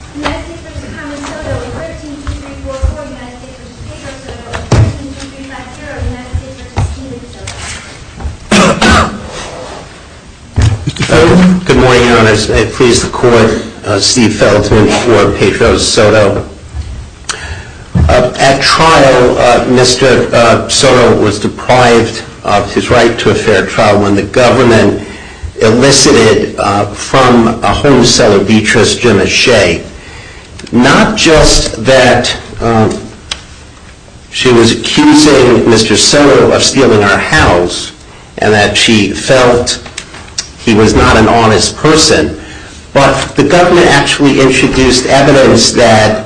Good morning, your honors. I please the court, Steve Felton for Petro Soto. At trial, Mr. Soto was deprived of his right to a fair trial when the government elicited from a home seller, Beatrice Jemiche, not just that she was accusing Mr. Soto of stealing her house and that she felt he was not an honest person, but the government actually introduced evidence that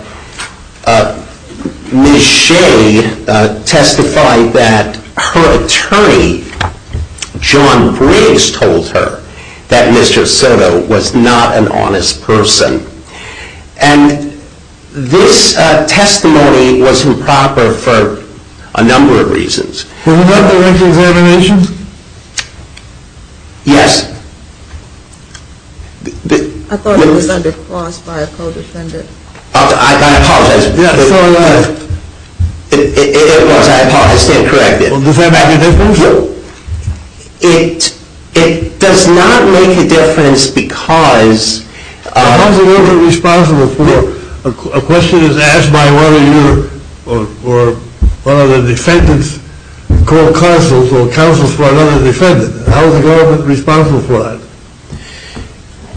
Ms. Jemiche testified that her attorney, John Briggs, told her that Mr. Soto was not an honest person. And this testimony was improper for a number of reasons. Was that the written examination? Yes. I thought it was under cross by a co-defendant. I apologize. It was. I apologize. Stay corrected. Does that make a difference? No. It does not make a difference because How is the government responsible for a question that's asked by one of your or one of the defendant's court counsels or counsels for another defendant? How is the government responsible for that?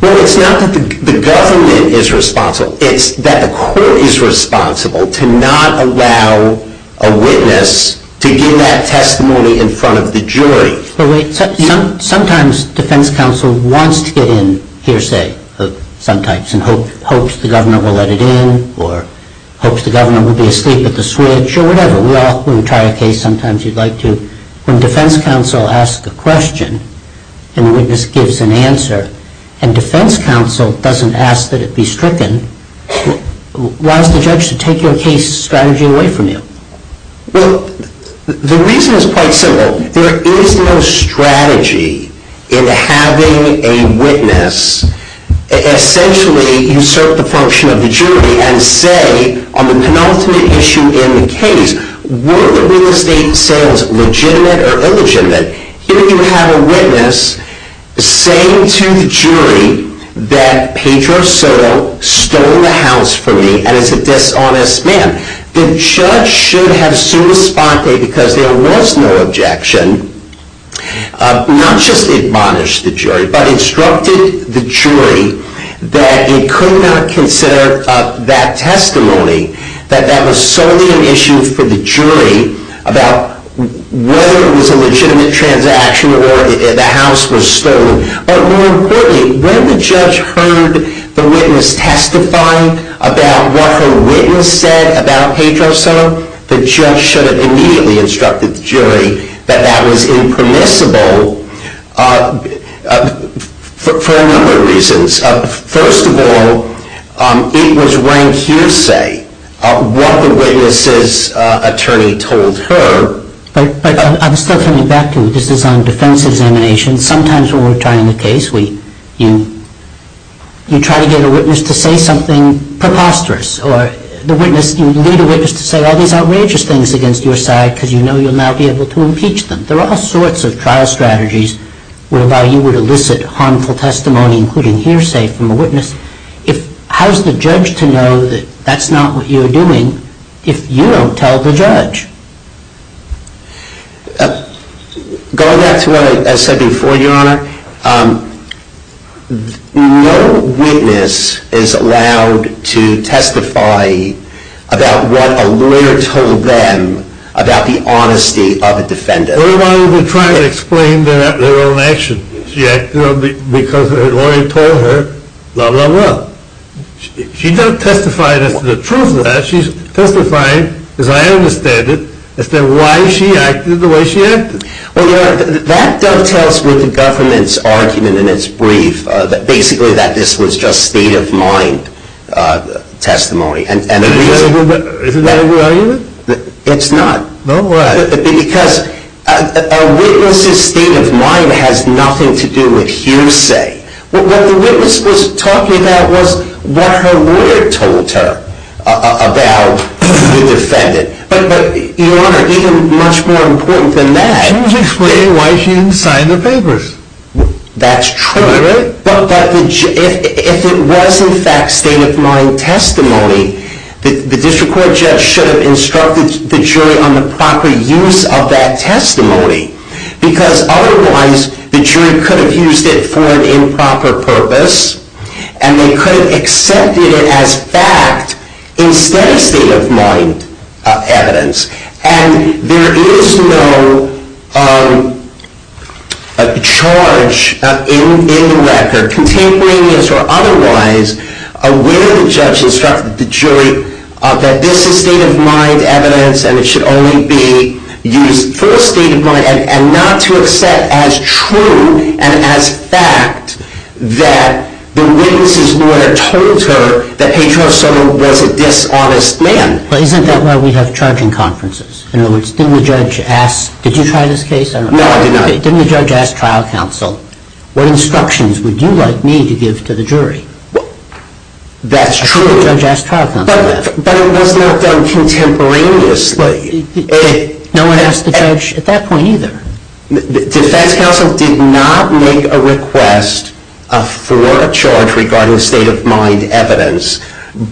Well, it's not that the government is responsible. It's that the court is responsible to not allow a witness to give that testimony in front of the jury. Sometimes defense counsel wants to get in hearsay of some types and hopes the governor will let it in or hopes the governor will be asleep at the switch or whatever. We all try a case sometimes you'd like to. When defense counsel asks a question and the witness gives an answer and defense counsel doesn't ask that it be stricken, why is the judge to take your case strategy away from you? Well, the reason is quite simple. There is no strategy in having a witness essentially usurp the function of the jury and say on the penultimate issue in the case, were the real estate sales legitimate or illegitimate? Here you have a witness saying to the jury that Pedro Soto stole the house from me and is a dishonest man. The judge should have sui sponte because there was no objection, not just admonished the jury, but instructed the jury that it could not consider that testimony, that that was solely an issue for the jury about whether it was a legitimate transaction or the house was stolen. But more importantly, when the judge heard the witness testify about what her witness said about Pedro Soto, the judge should have immediately instructed the jury that that was impermissible for a number of reasons. First of all, it was rank hearsay what the witness's attorney told her. But I'm still coming back to, this is on defense examination, sometimes when we're trying a case, you try to get a witness to say something preposterous or you need a witness to say all these outrageous things against your side because you know you'll not be able to impeach them. There are all sorts of trial strategies whereby you would elicit harmful testimony, including hearsay from a witness. How's the judge to know that that's not what you're doing if you don't tell the judge? Going back to what I said before, your honor, no witness is allowed to testify about what a lawyer told them about the honesty of a defendant. Well, your honor, that dovetails with the government's argument in its brief that basically this was just state of mind testimony. Isn't that a good argument? It's not. No way. Because a witness's state of mind has nothing to do with hearsay. What the witness was talking about was what her lawyer told her about the defendant. But your honor, even much more important than that. She was explaining why she didn't sign the papers. That's true. Am I right? But if it was, in fact, state of mind testimony, the district court judge should have instructed the jury on the proper use of that testimony. Because otherwise, the jury could have used it for an improper purpose, and they could have accepted it as fact instead of state of mind evidence. And there is no charge in the record, contemporaneous or otherwise, where the judge instructed the jury that this is state of mind evidence and it should only be used for state of mind and not to accept as true and as fact that the witness's lawyer told her that Pedro Soto was a dishonest man. But isn't that why we have charging conferences? In other words, didn't the judge ask, did you try this case? No, I did not. Didn't the judge ask trial counsel, what instructions would you like me to give to the jury? That's true. But it was not done contemporaneously. No one asked the judge at that point either. The defense counsel did not make a request for a charge regarding state of mind evidence.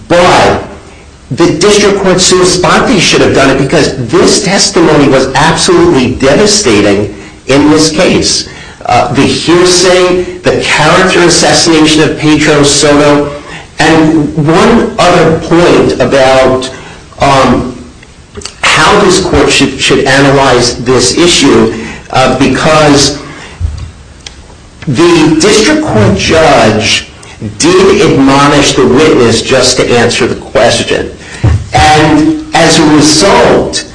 But the district court should have done it because this testimony was absolutely devastating in this case. The hearsay, the character assassination of Pedro Soto, and one other point about how this court should analyze this issue, because the district court judge did admonish the witness just to answer the question. And as a result,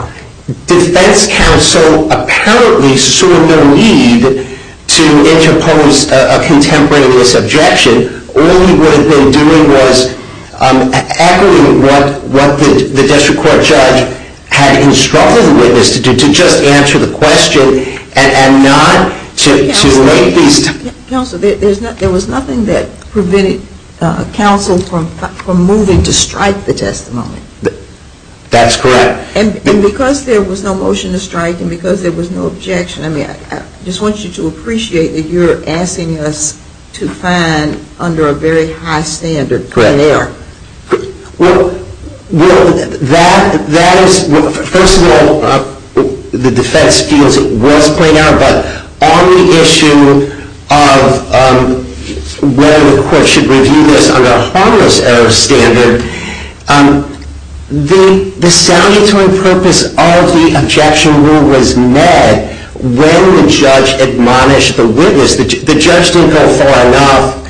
defense counsel apparently saw no need to interpose a contemporaneous objection. All he would have been doing was echoing what the district court judge had instructed the witness to do, to just answer the question and not to make these. Counsel, there was nothing that prevented counsel from moving to strike the testimony. That's correct. And because there was no motion to strike and because there was no objection, I mean, I just want you to appreciate that you're asking us to find under a very high standard. Well, that is, first of all, the defense feels it was played out. But on the issue of whether the court should review this under a harmless error standard, the sound interim purpose of the objection rule was met when the judge admonished the witness. The judge didn't go far enough,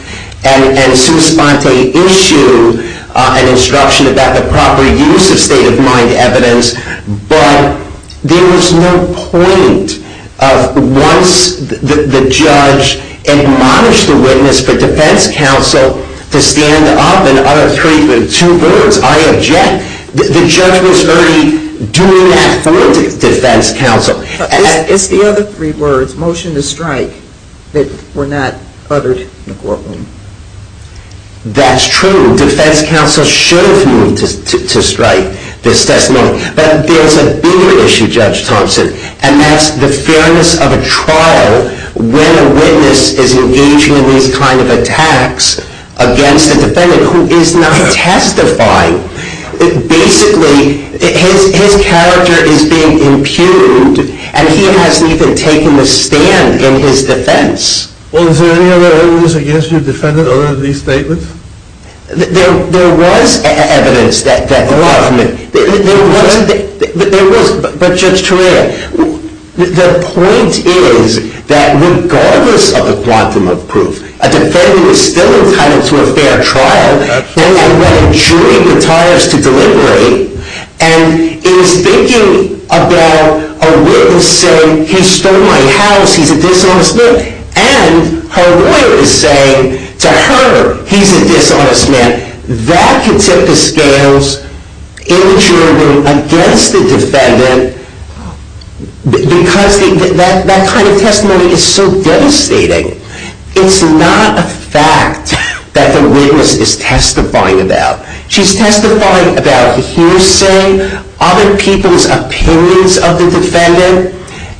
and Sue Sponte issued an instruction about the proper use of state-of-mind evidence. But there was no point of once the judge admonished the witness for defense counsel to stand up and utter two words, I object. The judge was already doing that for defense counsel. It's the other three words, motion to strike, that were not uttered in the courtroom. That's true. Defense counsel should have moved to strike this testimony. But there's a bigger issue, Judge Thompson, and that's the fairness of a trial when a witness is engaging in these kind of attacks against a defendant who is not testifying. Basically, his character is being impugned, and he hasn't even taken a stand in his defense. Well, is there any other evidence against your defendant other than these statements? There was evidence that there was. But, Judge Torreira, the point is that regardless of the quantum of proof, a defendant is still entitled to a fair trial. And I want a jury of attorneys to deliberate. And in speaking about a witness saying, he stole my house, he's a dishonest man. And her lawyer is saying to her, he's a dishonest man. That can tip the scales in the jury room against the defendant because that kind of testimony is so devastating. It's not a fact that the witness is testifying about. She's testifying about hearsay, other people's opinions of the defendant,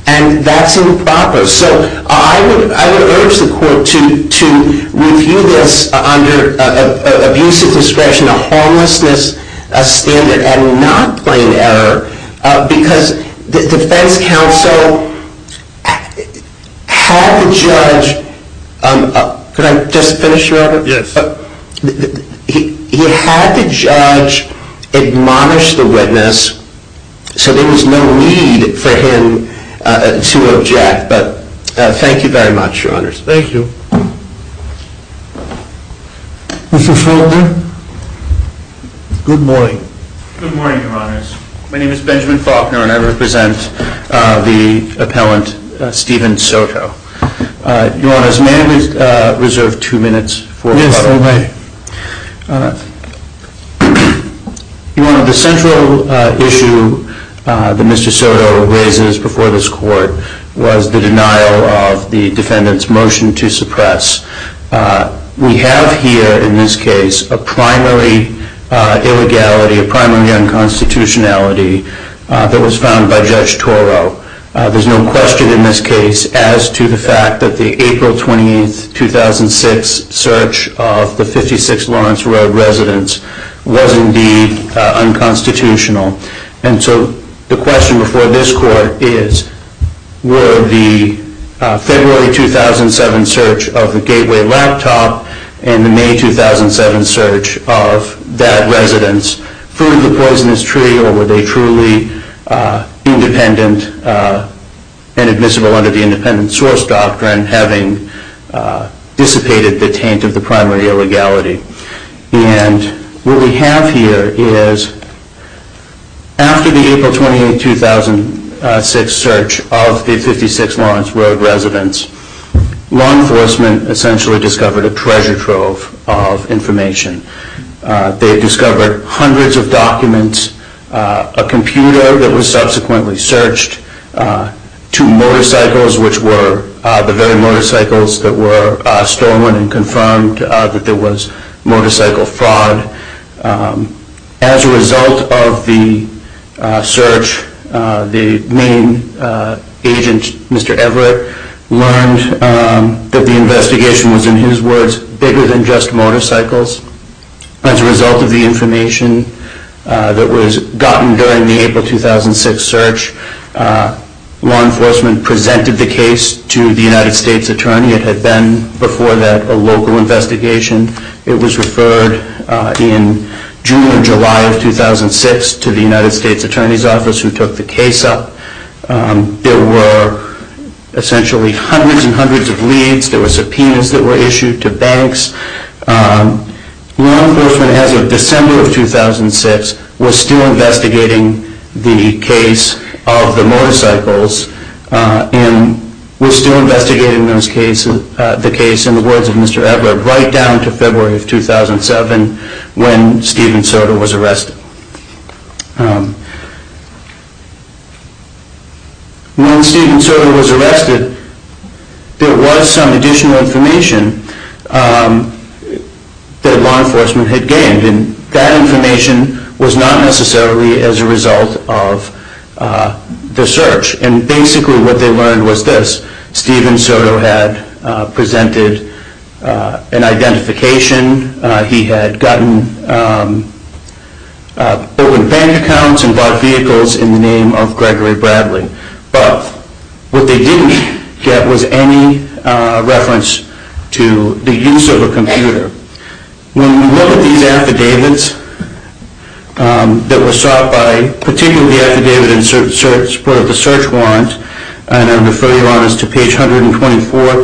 and that's improper. So I would urge the court to review this under abuse of discretion, a homelessness standard, and not plain error. Because the defense counsel had the judge admonish the witness so there was no need for him to object. Thank you very much, Your Honors. Thank you. Mr. Faulkner? Good morning. Good morning, Your Honors. My name is Benjamin Faulkner and I represent the appellant, Stephen Soto. Your Honors, may I reserve two minutes for the court? Yes, you may. Your Honor, the central issue that Mr. Soto raises before this court was the denial of the defendant's motion to suppress. We have here in this case a primary illegality, a primary unconstitutionality that was found by Judge Toro. There's no question in this case as to the fact that the April 28, 2006 search of the 56 Lawrence Road residence was indeed unconstitutional. And so the question before this court is, were the February 2007 search of the Gateway Laptop and the May 2007 search of that residence true to the poisonous tree or were they truly independent and admissible under the independent source doctrine, having dissipated the taint of the primary illegality? And what we have here is after the April 28, 2006 search of the 56 Lawrence Road residence, law enforcement essentially discovered a treasure trove of information. They discovered hundreds of documents, a computer that was subsequently searched, two motorcycles which were the very motorcycles that were stolen and confirmed that there was motorcycle fraud. As a result of the search, the main agent, Mr. Everett, learned that the investigation was, in his words, bigger than just motorcycles. As a result of the information that was gotten during the April 2006 search, law enforcement presented the case to the United States Attorney. It had been before that a local investigation. It was referred in June and July of 2006 to the United States Attorney's Office who took the case up. There were essentially hundreds and hundreds of leads. There were subpoenas that were issued to banks. Law enforcement, as of December of 2006, was still investigating the case of the motorcycles and was still investigating the case in the words of Mr. Everett right down to February of 2007 when Stephen Soto was arrested. When Stephen Soto was arrested, there was some additional information that law enforcement had gained. And that information was not necessarily as a result of the search. And basically what they learned was this. Stephen Soto had presented an identification. He had gotten open bank accounts and bought vehicles in the name of Gregory Bradley. But what they didn't get was any reference to the use of a computer. When you look at these affidavits that were sought by particularly the affidavit in support of the search warrant, and I'll refer you on this to page 124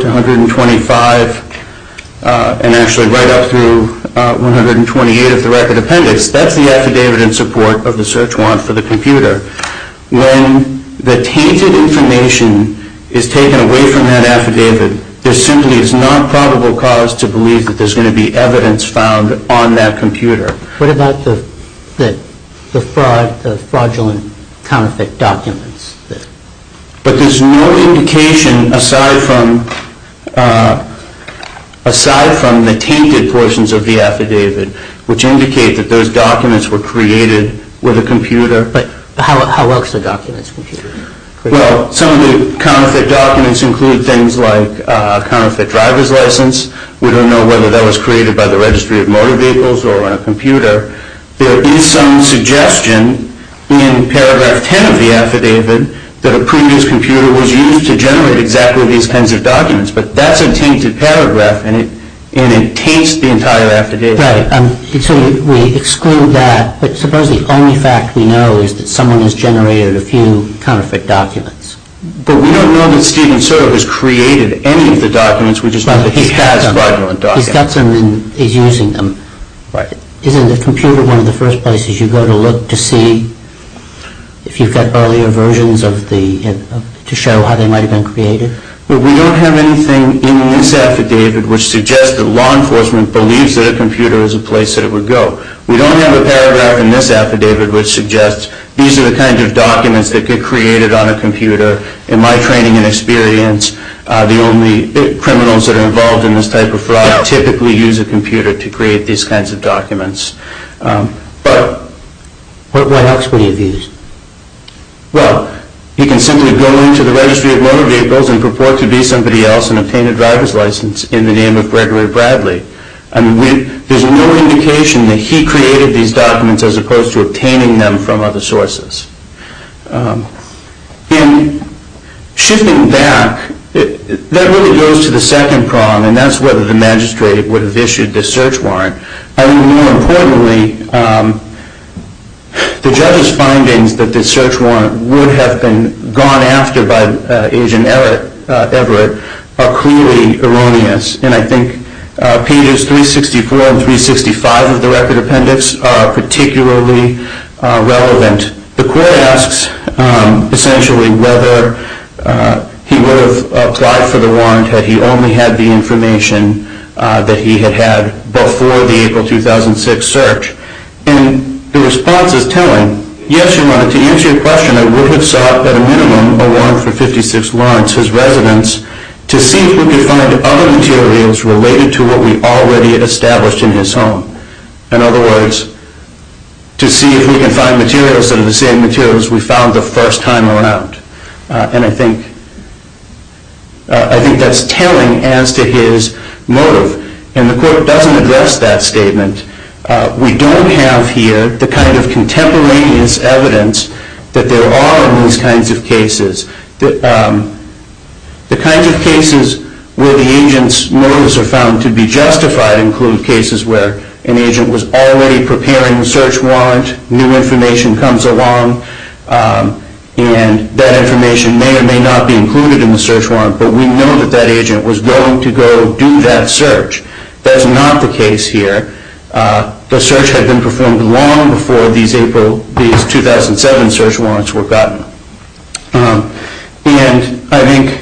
to 125 and actually right up through 128 of the record appendix, that's the affidavit in support of the search warrant for the computer. When the tainted information is taken away from that affidavit, there simply is not probable cause to believe that there's going to be evidence found on that computer. But there's no indication aside from the tainted portions of the affidavit which indicate that those documents were created with a computer. But how else are documents created? Well, some of the counterfeit documents include things like a counterfeit driver's license. We don't know whether that was created by the Registry of Motor Vehicles or on a computer. There is some suggestion in paragraph 10 of the affidavit that a previous computer was used to generate exactly these kinds of documents. But that's a tainted paragraph, and it taints the entire affidavit. Right. So we exclude that. But suppose the only fact we know is that someone has generated a few counterfeit documents. But we don't know that Steven Soto has created any of the documents. We just know that he has regular documents. He's got some and he's using them. Right. Isn't the computer one of the first places you go to look to see if you've got earlier versions to show how they might have been created? Well, we don't have anything in this affidavit which suggests that law enforcement believes that a computer is a place that it would go. We don't have a paragraph in this affidavit which suggests these are the kinds of documents that get created on a computer. In my training and experience, the only criminals that are involved in this type of fraud typically use a computer to create these kinds of documents. But what else would he have used? Well, he can simply go into the registry of motor vehicles and purport to be somebody else and obtain a driver's license in the name of Gregory Bradley. There's no indication that he created these documents as opposed to obtaining them from other sources. In shifting back, that really goes to the second prong, and that's whether the magistrate would have issued the search warrant. I think more importantly, the judge's findings that the search warrant would have been gone after by Agent Everett are clearly erroneous. And I think pages 364 and 365 of the record appendix are particularly relevant. The court asks essentially whether he would have applied for the warrant had he only had the information that he had had before the April 2006 search. And the response is telling. Yes, Your Honor, to answer your question, I would have sought at a minimum a warrant for 56 Lawrence, his residence, to see if we could find other materials related to what we already established in his home. In other words, to see if we can find materials that are the same materials we found the first time around. And I think that's telling as to his motive. And the court doesn't address that statement. We don't have here the kind of contemporaneous evidence that there are in these kinds of cases. The kinds of cases where the agent's motives are found to be justified include cases where an agent was already preparing the search warrant, new information comes along, and that information may or may not be included in the search warrant, but we know that that agent was going to go do that search. That's not the case here. The search had been performed long before these 2007 search warrants were gotten. And I think...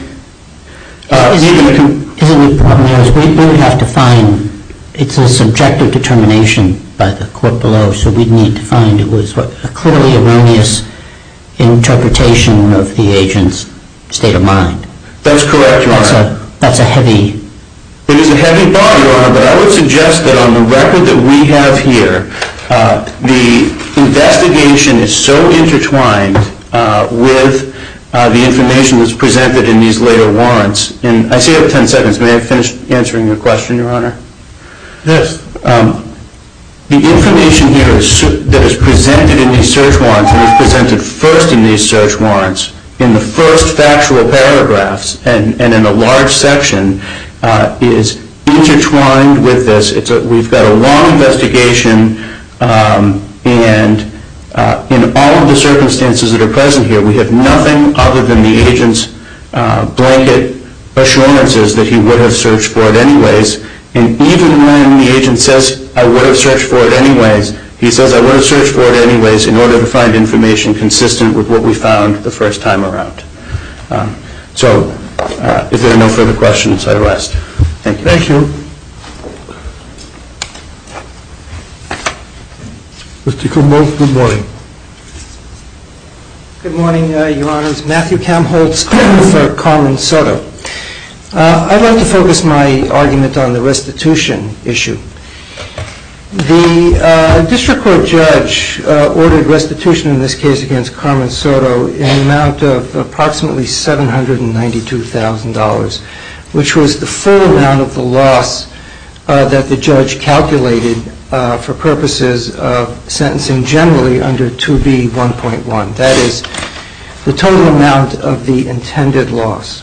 We would have to find... It's a subjective determination by the court below, so we'd need to find it was a clearly erroneous interpretation of the agent's state of mind. That's correct, Your Honor. That's a heavy... It is a heavy bond, Your Honor, but I would suggest that on the record that we have here, the investigation is so intertwined with the information that's presented in these later warrants. I see you have 10 seconds. May I finish answering your question, Your Honor? Yes. The information here that is presented in these search warrants and is presented first in these search warrants in the first factual paragraphs and in a large section is intertwined with this. We've got a long investigation, and in all of the circumstances that are present here, we have nothing other than the agent's blanket assurances that he would have searched for it anyways. And even when the agent says, I would have searched for it anyways, he says, I would have searched for it anyways in order to find information consistent with what we found the first time around. So, if there are no further questions, I rest. Thank you. Thank you. Mr. Kudlow, good morning. Good morning, Your Honors. Matthew Kamholtz with Carmen Soto. I'd like to focus my argument on the restitution issue. The district court judge ordered restitution in this case against Carmen Soto in an amount of approximately $792,000, which was the full amount of the loss that the judge calculated for purposes of sentencing generally under 2B1.1. That is, the total amount of the intended loss.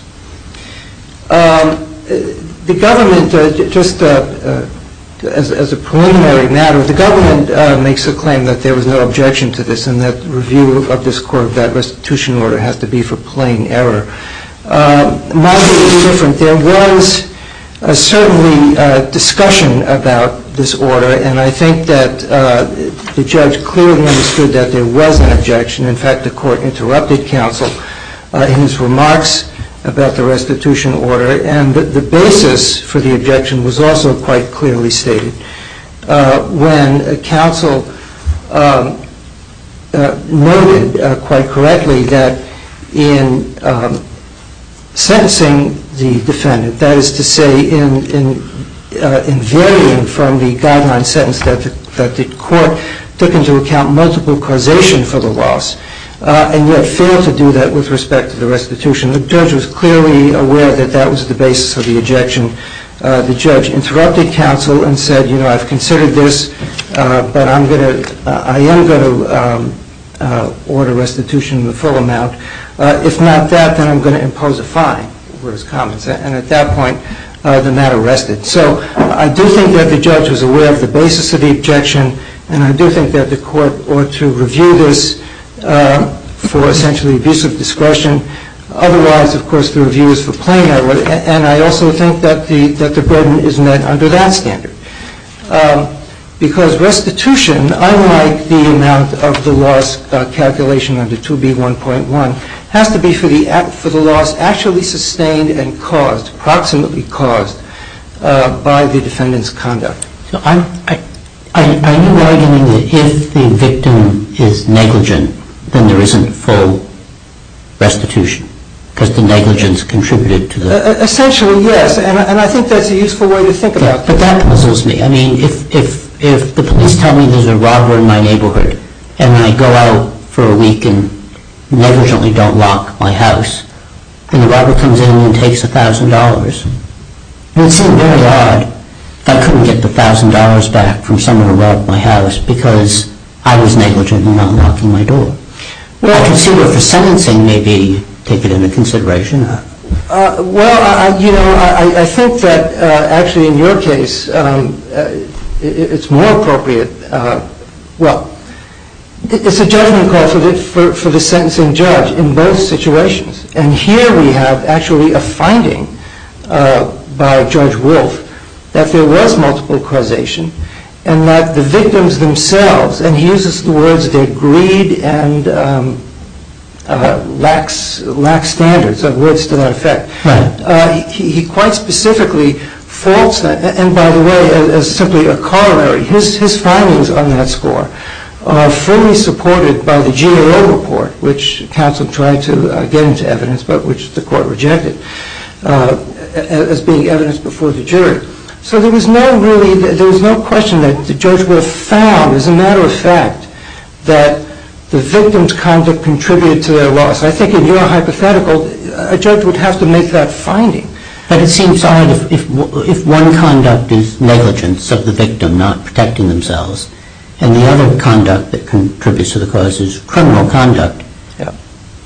The government, just as a preliminary matter, the government makes a claim that there was no objection to this and that review of this court, that restitution order, has to be for plain error. My view is different. There was certainly discussion about this order, and I think that the judge clearly understood that there was an objection. In fact, the court interrupted counsel in his remarks about the restitution order, and the basis for the objection was also quite clearly stated. When counsel noted quite correctly that in sentencing the defendant, that is to say, in varying from the guideline sentence that the court took into account multiple causation for the loss, and yet failed to do that with respect to the restitution, the judge was clearly aware that that was the basis of the objection. The judge interrupted counsel and said, you know, I've considered this, but I am going to order restitution in the full amount. If not that, then I'm going to impose a fine. And at that point, the matter rested. So I do think that the judge was aware of the basis of the objection, and I do think that the court ought to review this for essentially abusive discretion. Otherwise, of course, the review is for plain error, and I also think that the burden is met under that standard. Because restitution, unlike the amount of the loss calculation under 2B1.1, has to be for the loss actually sustained and caused, approximately caused, by the defendant's conduct. I knew right in the beginning that if the victim is negligent, then there isn't full restitution. Because the negligence contributed to the... Essentially, yes. And I think that's a useful way to think about it. But that puzzles me. I mean, if the police tell me there's a robber in my neighborhood, and I go out for a week and negligently don't lock my house, and the robber comes in and takes $1,000, it would seem very odd if I couldn't get the $1,000 back from someone who robbed my house because I was negligent in not locking my door. Well, I can see where for sentencing, maybe, take it into consideration. Well, you know, I think that actually in your case, it's more appropriate... Well, it's a judgment call for the sentencing judge in both situations. And here we have actually a finding by Judge Wolf that there was multiple causation and that the victims themselves, and he uses the words their greed and lax standards are words to that effect. Right. He quite specifically faults that. And by the way, as simply a corollary, his findings on that score are fully supported by the GAO report, which counsel tried to get into evidence but which the court rejected as being evidence before the jury. So there was no question that Judge Wolf found, as a matter of fact, that the victims' conduct contributed to their loss. I think in your hypothetical, a judge would have to make that finding. But it seems odd if one conduct is negligence of the victim, not protecting themselves, and the other conduct that contributes to the cause is criminal conduct. Yeah.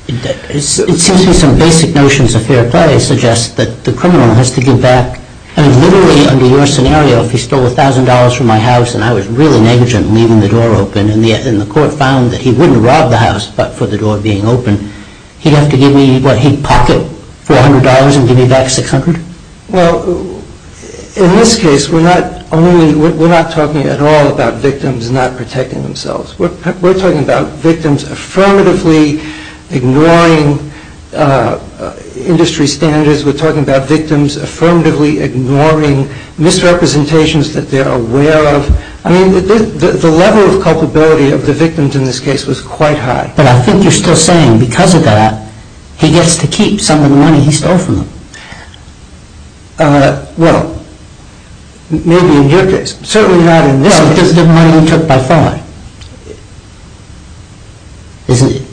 It seems to me some basic notions of fair play suggest that the criminal has to give back, and literally under your scenario, if he stole $1,000 from my house and I was really negligent in leaving the door open and the court found that he wouldn't rob the house but for the door being open, he'd have to give me what he'd pocket, $400, and give me back $600? Well, in this case, we're not talking at all about victims not protecting themselves. We're talking about victims affirmatively ignoring industry standards. We're talking about victims affirmatively ignoring misrepresentations that they're aware of. I mean, the level of culpability of the victims in this case was quite high. But I think you're still saying because of that, he gets to keep some of the money he stole from them. Well, maybe in your case. Certainly not in this one because it wasn't money he took by thought. Isn't it?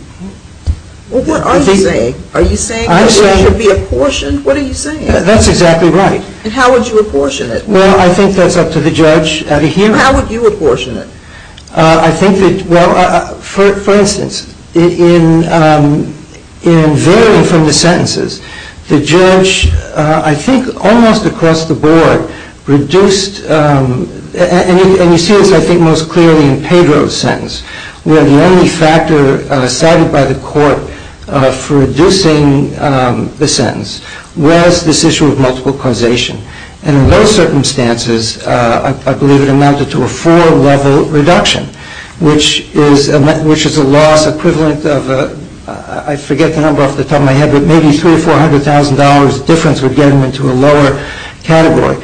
Well, what are you saying? Are you saying that it should be apportioned? What are you saying? That's exactly right. And how would you apportion it? Well, I think that's up to the judge to hear. How would you apportion it? I think that, well, for instance, in varying from the sentences, the judge, I think almost across the board, reduced, and you see this I think most clearly in Pedro's sentence, where the only factor cited by the court for reducing the sentence was this issue of multiple causation. And in those circumstances, I believe it amounted to a four-level reduction, which is a loss equivalent of, I forget the number off the top of my head, but maybe $300,000 or $400,000 difference would get him into a lower category.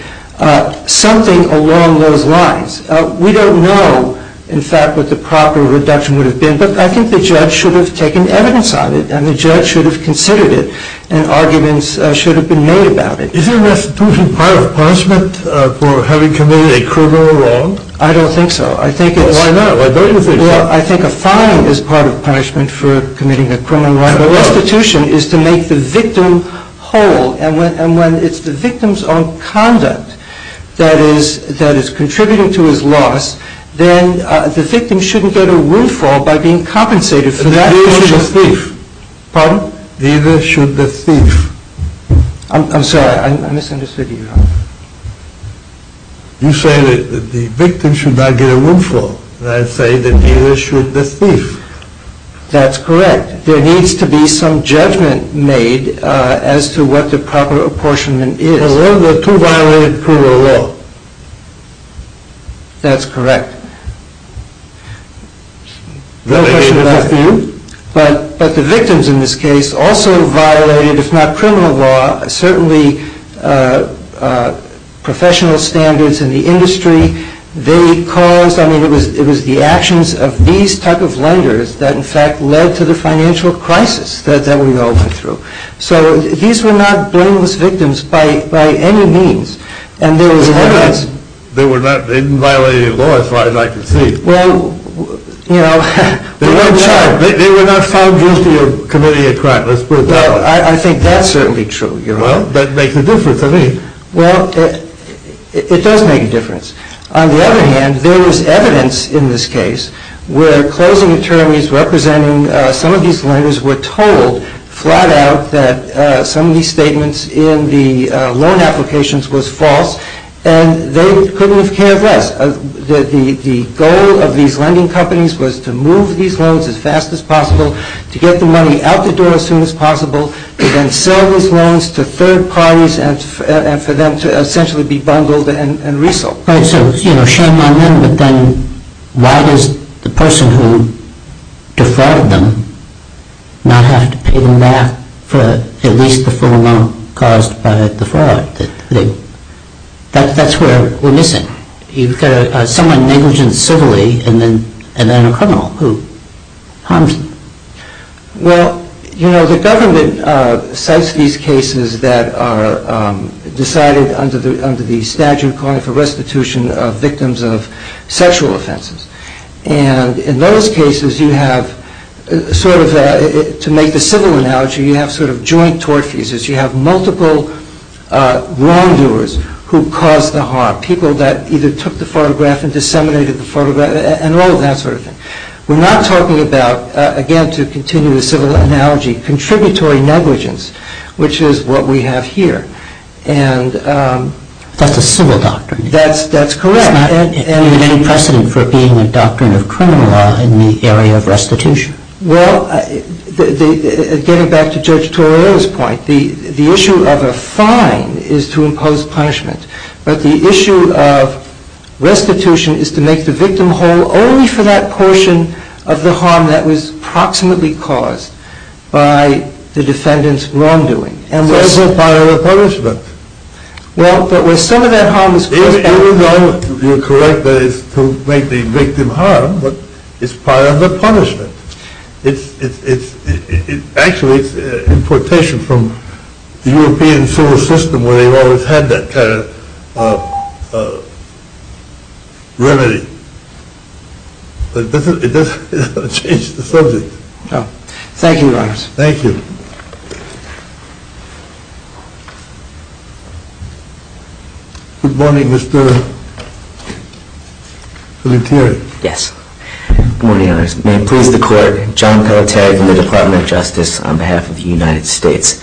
Something along those lines. We don't know, in fact, what the proper reduction would have been, but I think the judge should have taken evidence on it and the judge should have considered it and arguments should have been made about it. Is restitution part of punishment for having committed a criminal wrong? I don't think so. Well, why not? Why don't you think so? Well, I think a fine is part of punishment for committing a criminal wrong, but restitution is to make the victim whole. And when it's the victim's own conduct that is contributing to his loss, then the victim shouldn't get a willful by being compensated for that. Neither should the thief. Pardon? Neither should the thief. I'm sorry. I misunderstood you. You say that the victim should not get a willful. And I say that neither should the thief. That's correct. There needs to be some judgment made as to what the proper apportionment is. Because those are the two violated criminal law. That's correct. No question about you. But the victims in this case also violated, if not criminal law, certainly professional standards in the industry. They caused, I mean, it was the actions of these type of lenders that in fact led to the financial crisis that we all went through. So these were not blameless victims by any means. They didn't violate any law as far as I could see. Well, you know. They were not found guilty of committing a crime, let's put it that way. Well, I think that's certainly true. Well, that makes a difference, I mean. Well, it does make a difference. On the other hand, there was evidence in this case where closing attorneys representing some of these lenders were told flat out that some of these statements in the loan applications was false and they couldn't have cared less. The goal of these lending companies was to move these loans as fast as possible, to get the money out the door as soon as possible, to then sell these loans to third parties and for them to essentially be bundled and resold. Right, so shame on them, but then why does the person who defrauded them not have to pay them back for at least the full loan caused by the fraud? That's where we're missing. You've got someone negligent civilly and then a criminal who harms them. Well, you know, the government cites these cases that are decided under the statute calling for restitution of victims of sexual offenses. And in those cases you have sort of, to make the civil analogy, you have sort of joint tort fuses. You have multiple wrongdoers who caused the harm, people that either took the photograph and disseminated the photograph and all of that sort of thing. We're not talking about, again to continue the civil analogy, contributory negligence, which is what we have here. That's a civil doctrine. That's correct. There's not any precedent for being a doctrine of criminal law in the area of restitution. Well, getting back to Judge Torrio's point, the issue of a fine is to impose punishment, but the issue of restitution is to make the victim whole only for that portion of the harm that was approximately caused by the defendant's wrongdoing. And where's the part of the punishment? Well, but where some of that harm is caused… You're correct that it's to make the victim harm, but it's part of the punishment. Actually, it's importation from the European civil system where they've always had that kind of remedy. But it doesn't change the subject. Thank you, Your Honors. Thank you. Good morning, Mr. Pelletieri. Yes. Good morning, Your Honors. May it please the Court, John Pelletieri from the Department of Justice on behalf of the United States.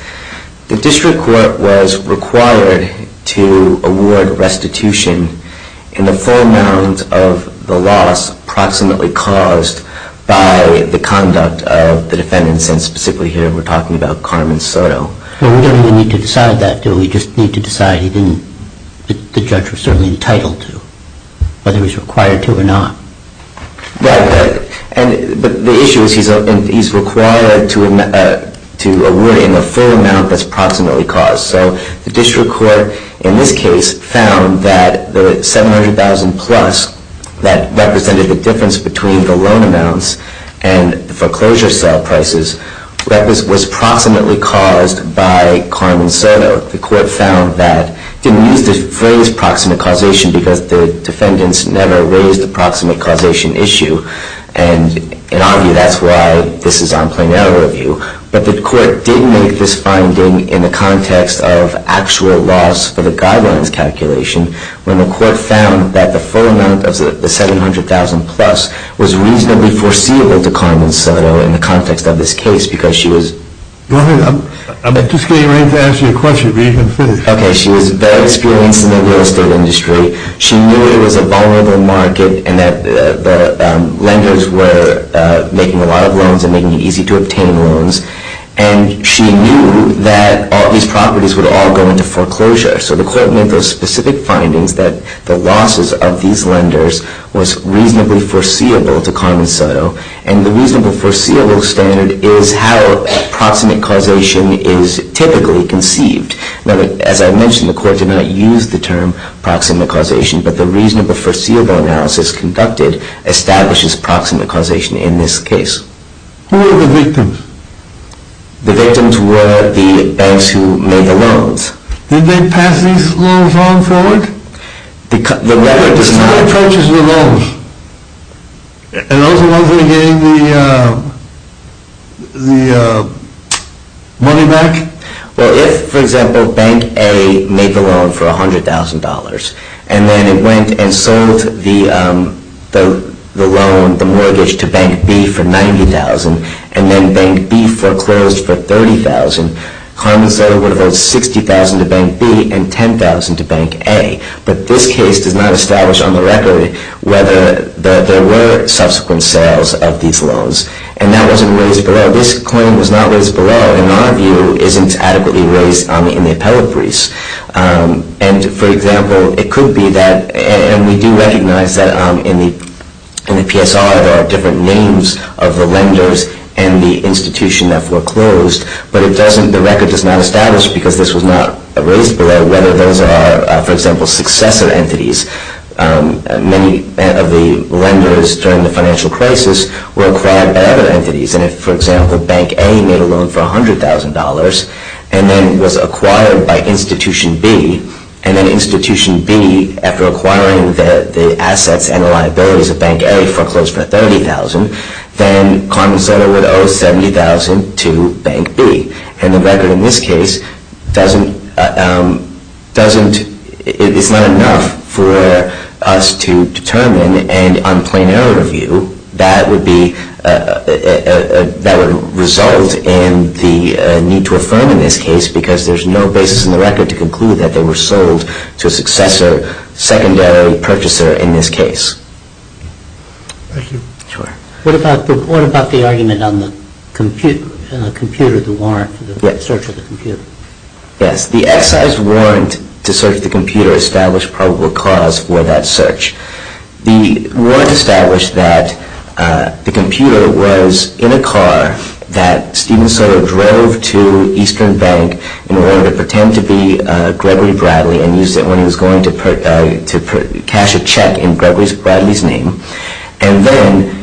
The district court was required to award restitution in the full amount of the loss approximately caused by the conduct of the defendant, and specifically here we're talking about Carmen Soto. Well, we don't really need to decide that, do we? We just need to decide the judge was certainly entitled to, whether he was required to or not. Right. But the issue is he's required to award in the full amount that's approximately caused. So the district court in this case found that the $700,000-plus that represented the difference between the loan amounts and the foreclosure sale prices was proximately caused by Carmen Soto. The court found that, didn't use the phrase proximate causation because the defendants never raised the proximate causation issue, and in our view that's why this is on plain error review, but the court did make this finding in the context of actual loss for the guidelines calculation when the court found that the full amount of the $700,000-plus was reasonably foreseeable to Carmen Soto in the context of this case because she was... Go ahead. I'm just getting ready to answer your question, but you can finish. Okay. She was very experienced in the real estate industry. She knew it was a vulnerable market and that the lenders were making a lot of loans and making it easy to obtain loans, and she knew that all these properties would all go into foreclosure. So the court made those specific findings that the losses of these lenders was reasonably foreseeable to Carmen Soto, and the reasonable foreseeable standard is how proximate causation is typically conceived. Now, as I mentioned, the court did not use the term proximate causation, but the reasonable foreseeable analysis conducted establishes proximate causation in this case. Who were the victims? The victims were the banks who made the loans. Did they pass these loans on forward? The letter does not... Who purchased the loans? And those are the ones who were getting the money back? Well, if, for example, Bank A made the loan for $100,000 and then it went and sold the loan, the mortgage, to Bank B for $90,000 and then Bank B foreclosed for $30,000, Carmen Soto would have owed $60,000 to Bank B and $10,000 to Bank A. But this case does not establish on the record whether there were subsequent sales of these loans, and that wasn't raised below. This claim was not raised below, in our view, isn't adequately raised in the appellate briefs. And, for example, it could be that... And we do recognize that in the PSR, there are different names of the lenders and the institution that foreclosed, but the record does not establish, because this was not raised below, whether those are, for example, successor entities. Many of the lenders during the financial crisis were acquired by other entities. And if, for example, Bank A made a loan for $100,000 and then was acquired by Institution B, and then Institution B, after acquiring the assets and the liabilities of Bank A, foreclosed for $30,000, then Carmen Soto would owe $70,000 to Bank B. And the record in this case doesn't... It's not enough for us to determine an unplanar review that would result in the need to affirm in this case, because there's no basis in the record to conclude that they were sold to a successor, secondary purchaser in this case. Thank you. Sure. What about the argument on the computer, the warrant for the search of the computer? Yes. The excise warrant to search the computer established probable cause for that search. The warrant established that the computer was in a car that Steven Soto drove to Eastern Bank in order to pretend to be Gregory Bradley and used it when he was going to cash a check in Gregory Bradley's name. And then,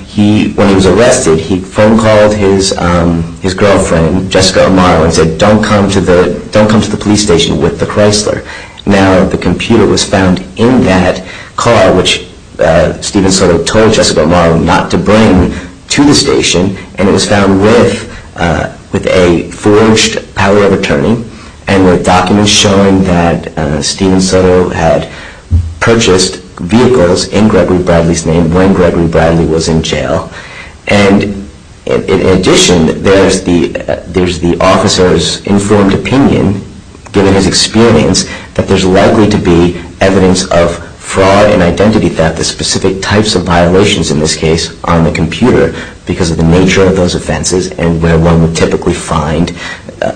when he was arrested, he phone-called his girlfriend, Jessica O'Mara, and said, don't come to the police station with the Chrysler. Now, the computer was found in that car, which Steven Soto told Jessica O'Mara not to bring to the station, and it was found with a forged power of attorney and with documents showing that Steven Soto had purchased vehicles in Gregory Bradley's name when Gregory Bradley was in jail. And in addition, there's the officer's informed opinion, given his experience, that there's likely to be evidence of fraud and identity theft, the specific types of violations in this case, on the computer, because of the nature of those offenses and where one would typically find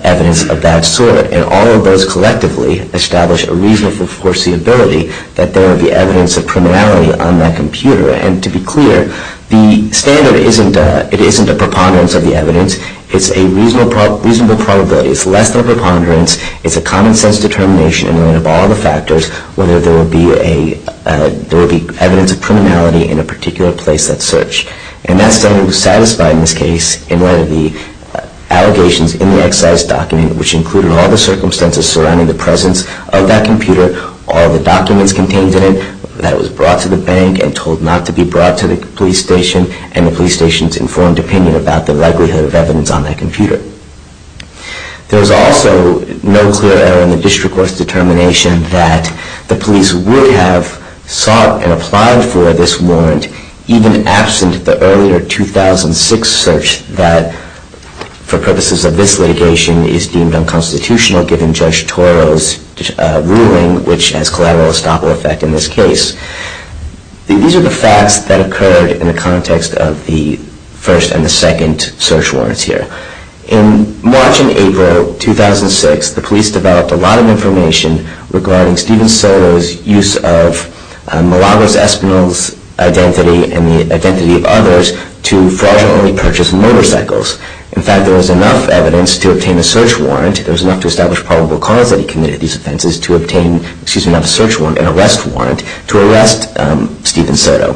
evidence of that sort. And all of those collectively establish a reasonable foreseeability that there would be evidence of criminality on that computer. And to be clear, the standard isn't a preponderance of the evidence. It's a reasonable probability. It's less than a preponderance. It's a common-sense determination in light of all the factors whether there will be evidence of criminality in a particular place that's searched. And that standard was satisfied in this case in light of the allegations in the excise document, which included all the circumstances surrounding the presence of that computer, all the documents contained in it that was brought to the bank and told not to be brought to the police station, and the police station's informed opinion about the likelihood of evidence on that computer. There was also no clear error in the district court's determination that the police would have sought and applied for this warrant even absent the earlier 2006 search that, for purposes of this litigation, is deemed unconstitutional given Judge Toro's ruling, which has collateral estoppel effect in this case. These are the facts that occurred in the context of the first and the second search warrants here. In March and April 2006, the police developed a lot of information regarding Stephen Soto's use of Malabar's espinal's identity and the identity of others to fraudulently purchase motorcycles. In fact, there was enough evidence to obtain a search warrant. There was enough to establish probable cause that he committed these offenses to obtain a search warrant, an arrest warrant, to arrest Stephen Soto.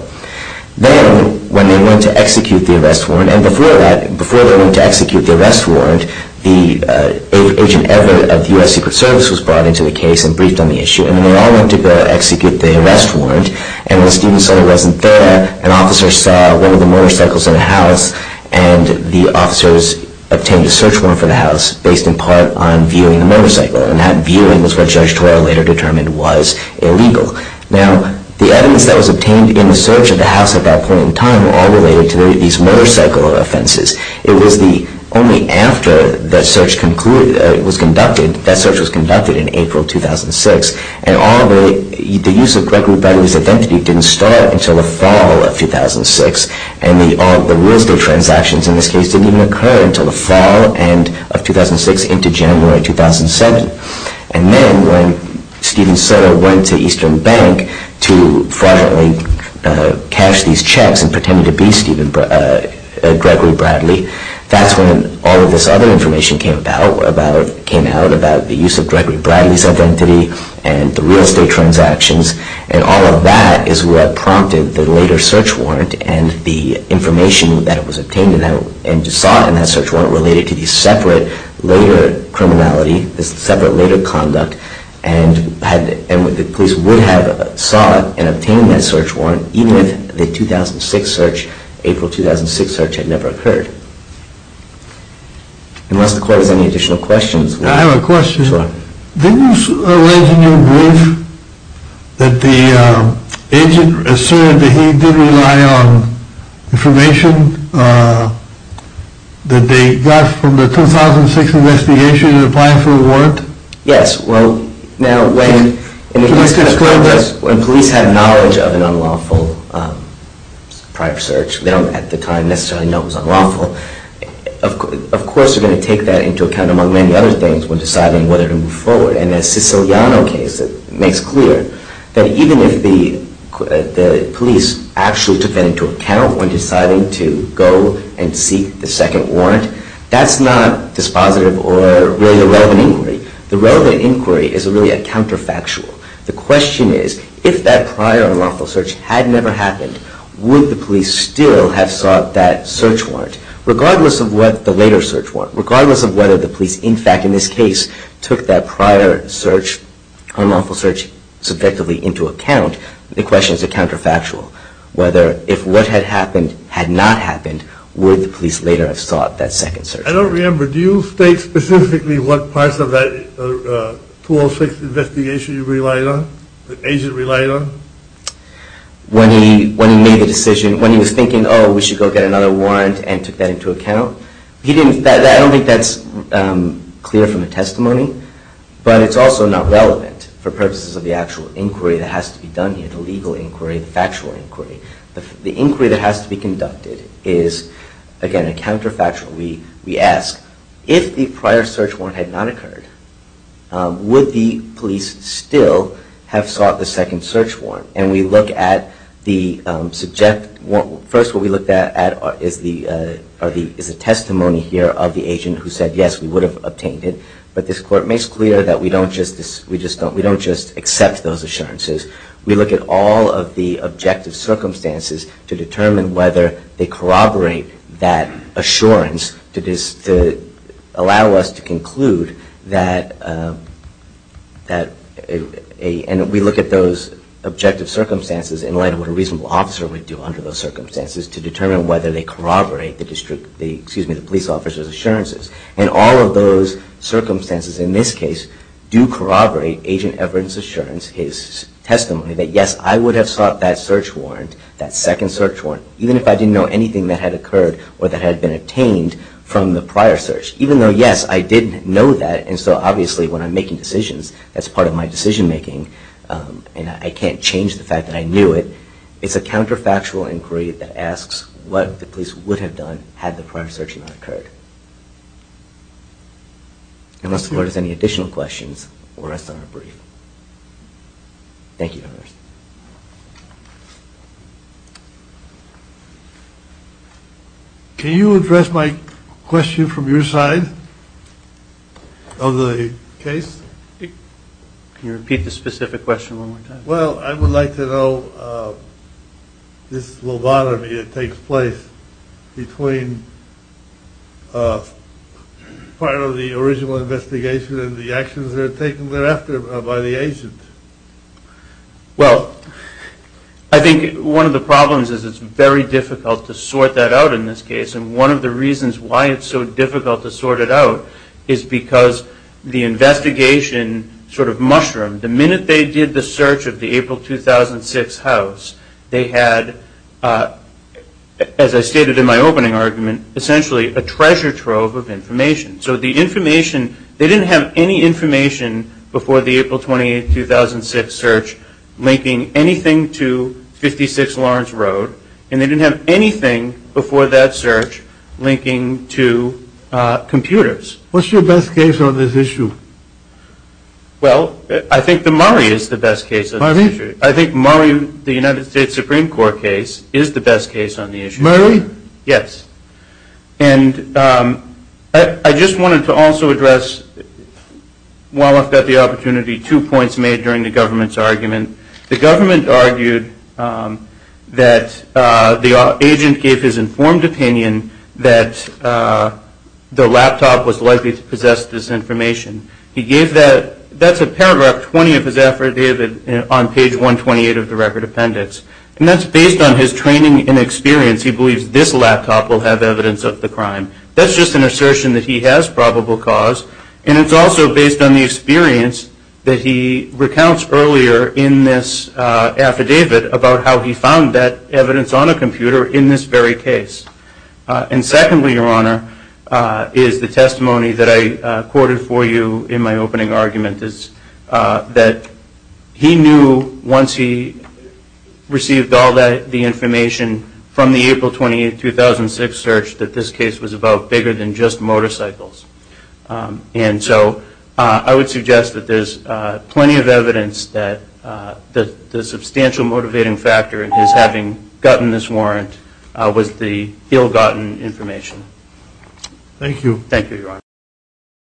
Then, when they went to execute the arrest warrant, and before they went to execute the arrest warrant, Agent Everett of the U.S. Secret Service was brought into the case and briefed on the issue. And they all went to go execute the arrest warrant. And when Stephen Soto wasn't there, an officer saw one of the motorcycles in the house and the officers obtained a search warrant for the house based in part on viewing the motorcycle. And that viewing was what Judge Toro later determined was illegal. Now, the evidence that was obtained in the search of the house at that point in time were all related to these motorcycle offenses. It was only after that search was conducted, that search was conducted in April 2006, and the use of Gregory Bradley's identity didn't start until the fall of 2006. And the Wednesday transactions in this case didn't even occur until the fall end of 2006 into January 2007. And then, when Stephen Soto went to Eastern Bank to fraudulently cash these checks and pretended to be Gregory Bradley, that's when all of this other information came out about the use of Gregory Bradley's identity and the real estate transactions. And all of that is what prompted the later search warrant and the information that was obtained and sought in that search warrant related to these separate later criminality, these separate later conduct. And the police would have sought and obtained that search warrant even if the 2006 search, April 2006 search, had never occurred. Unless the court has any additional questions. I have a question. Sure. Didn't you raise in your brief that the agent asserted that he did rely on information that they got from the 2006 investigation in applying for a warrant? Yes. Well, now when police have knowledge of an unlawful prior search, they don't at the time necessarily know it was unlawful, of course they're going to take that into account among many other things when deciding whether to move forward. And the Siciliano case makes clear that even if the police actually took that into account when deciding to go and seek the second warrant, that's not dispositive or really a relevant inquiry. The relevant inquiry is really a counterfactual. The question is, if that prior unlawful search had never happened, would the police still have sought that search warrant, regardless of what the later search warrant, regardless of whether the police, in fact, in this case, took that prior search, unlawful search, subjectively into account, the question is a counterfactual. Whether if what had happened had not happened, would the police later have sought that second search warrant? I don't remember. Do you state specifically what parts of that 2006 investigation you relied on, the agent relied on? When he made the decision, when he was thinking, oh, we should go get another warrant and took that into account, I don't think that's clear from the testimony, but it's also not relevant for purposes of the actual inquiry that has to be done here, the legal inquiry, the factual inquiry. The inquiry that has to be conducted is, again, a counterfactual. We ask, if the prior search warrant had not occurred, would the police still have sought the second search warrant? And we look at the subject, first what we look at is the testimony here of the agent who said, yes, we would have obtained it, but this court makes clear that we don't just accept those assurances. We look at all of the objective circumstances to determine whether they corroborate that assurance to allow us to conclude that we look at those objective circumstances in light of what a reasonable officer would do under those circumstances to determine whether they corroborate the police officer's assurances. And all of those circumstances in this case do corroborate Agent Everett's assurance, his testimony, that yes, I would have sought that search warrant, that second search warrant, even if I didn't know anything that had occurred or that had been obtained from the prior search. Even though, yes, I did know that, and so obviously when I'm making decisions, that's part of my decision making, and I can't change the fact that I knew it. It's a counterfactual inquiry that asks what the police would have done had the prior search not occurred. Unless the court has any additional questions, we'll rest on a brief. Thank you, Your Honor. Can you address my question from your side of the case? Can you repeat the specific question one more time? Well, I would like to know this lobotomy that takes place between part of the original investigation and the actions that are taken thereafter by the agent. Well, I think one of the problems is it's very difficult to sort that out in this case, and one of the reasons why it's so difficult to sort it out is because the investigation sort of mushroomed. The minute they did the search of the April 2006 house, they had, as I stated in my opening argument, essentially a treasure trove of information. So the information, they didn't have any information before the April 2008-2006 search linking anything to 56 Lawrence Road, and they didn't have anything before that search linking to computers. What's your best case on this issue? Well, I think the Murray is the best case on this issue. I think Murray, the United States Supreme Court case, is the best case on the issue. Murray? Yes. And I just wanted to also address, while I've got the opportunity, two points made during the government's argument. The government argued that the agent gave his informed opinion that the laptop was likely to possess this information. That's a paragraph 20 of his affidavit on page 128 of the record appendix, and that's based on his training and experience. He believes this laptop will have evidence of the crime. That's just an assertion that he has probable cause, and it's also based on the experience that he recounts earlier in this affidavit about how he found that evidence on a computer in this very case. And secondly, Your Honor, is the testimony that I quoted for you in my opening argument, is that he knew once he received all the information from the April 28, 2006 search, that this case was about bigger than just motorcycles. And so I would suggest that there's plenty of evidence that the substantial motivating factor is having gotten this warrant was the ill-gotten information. Thank you. Thank you, Your Honor.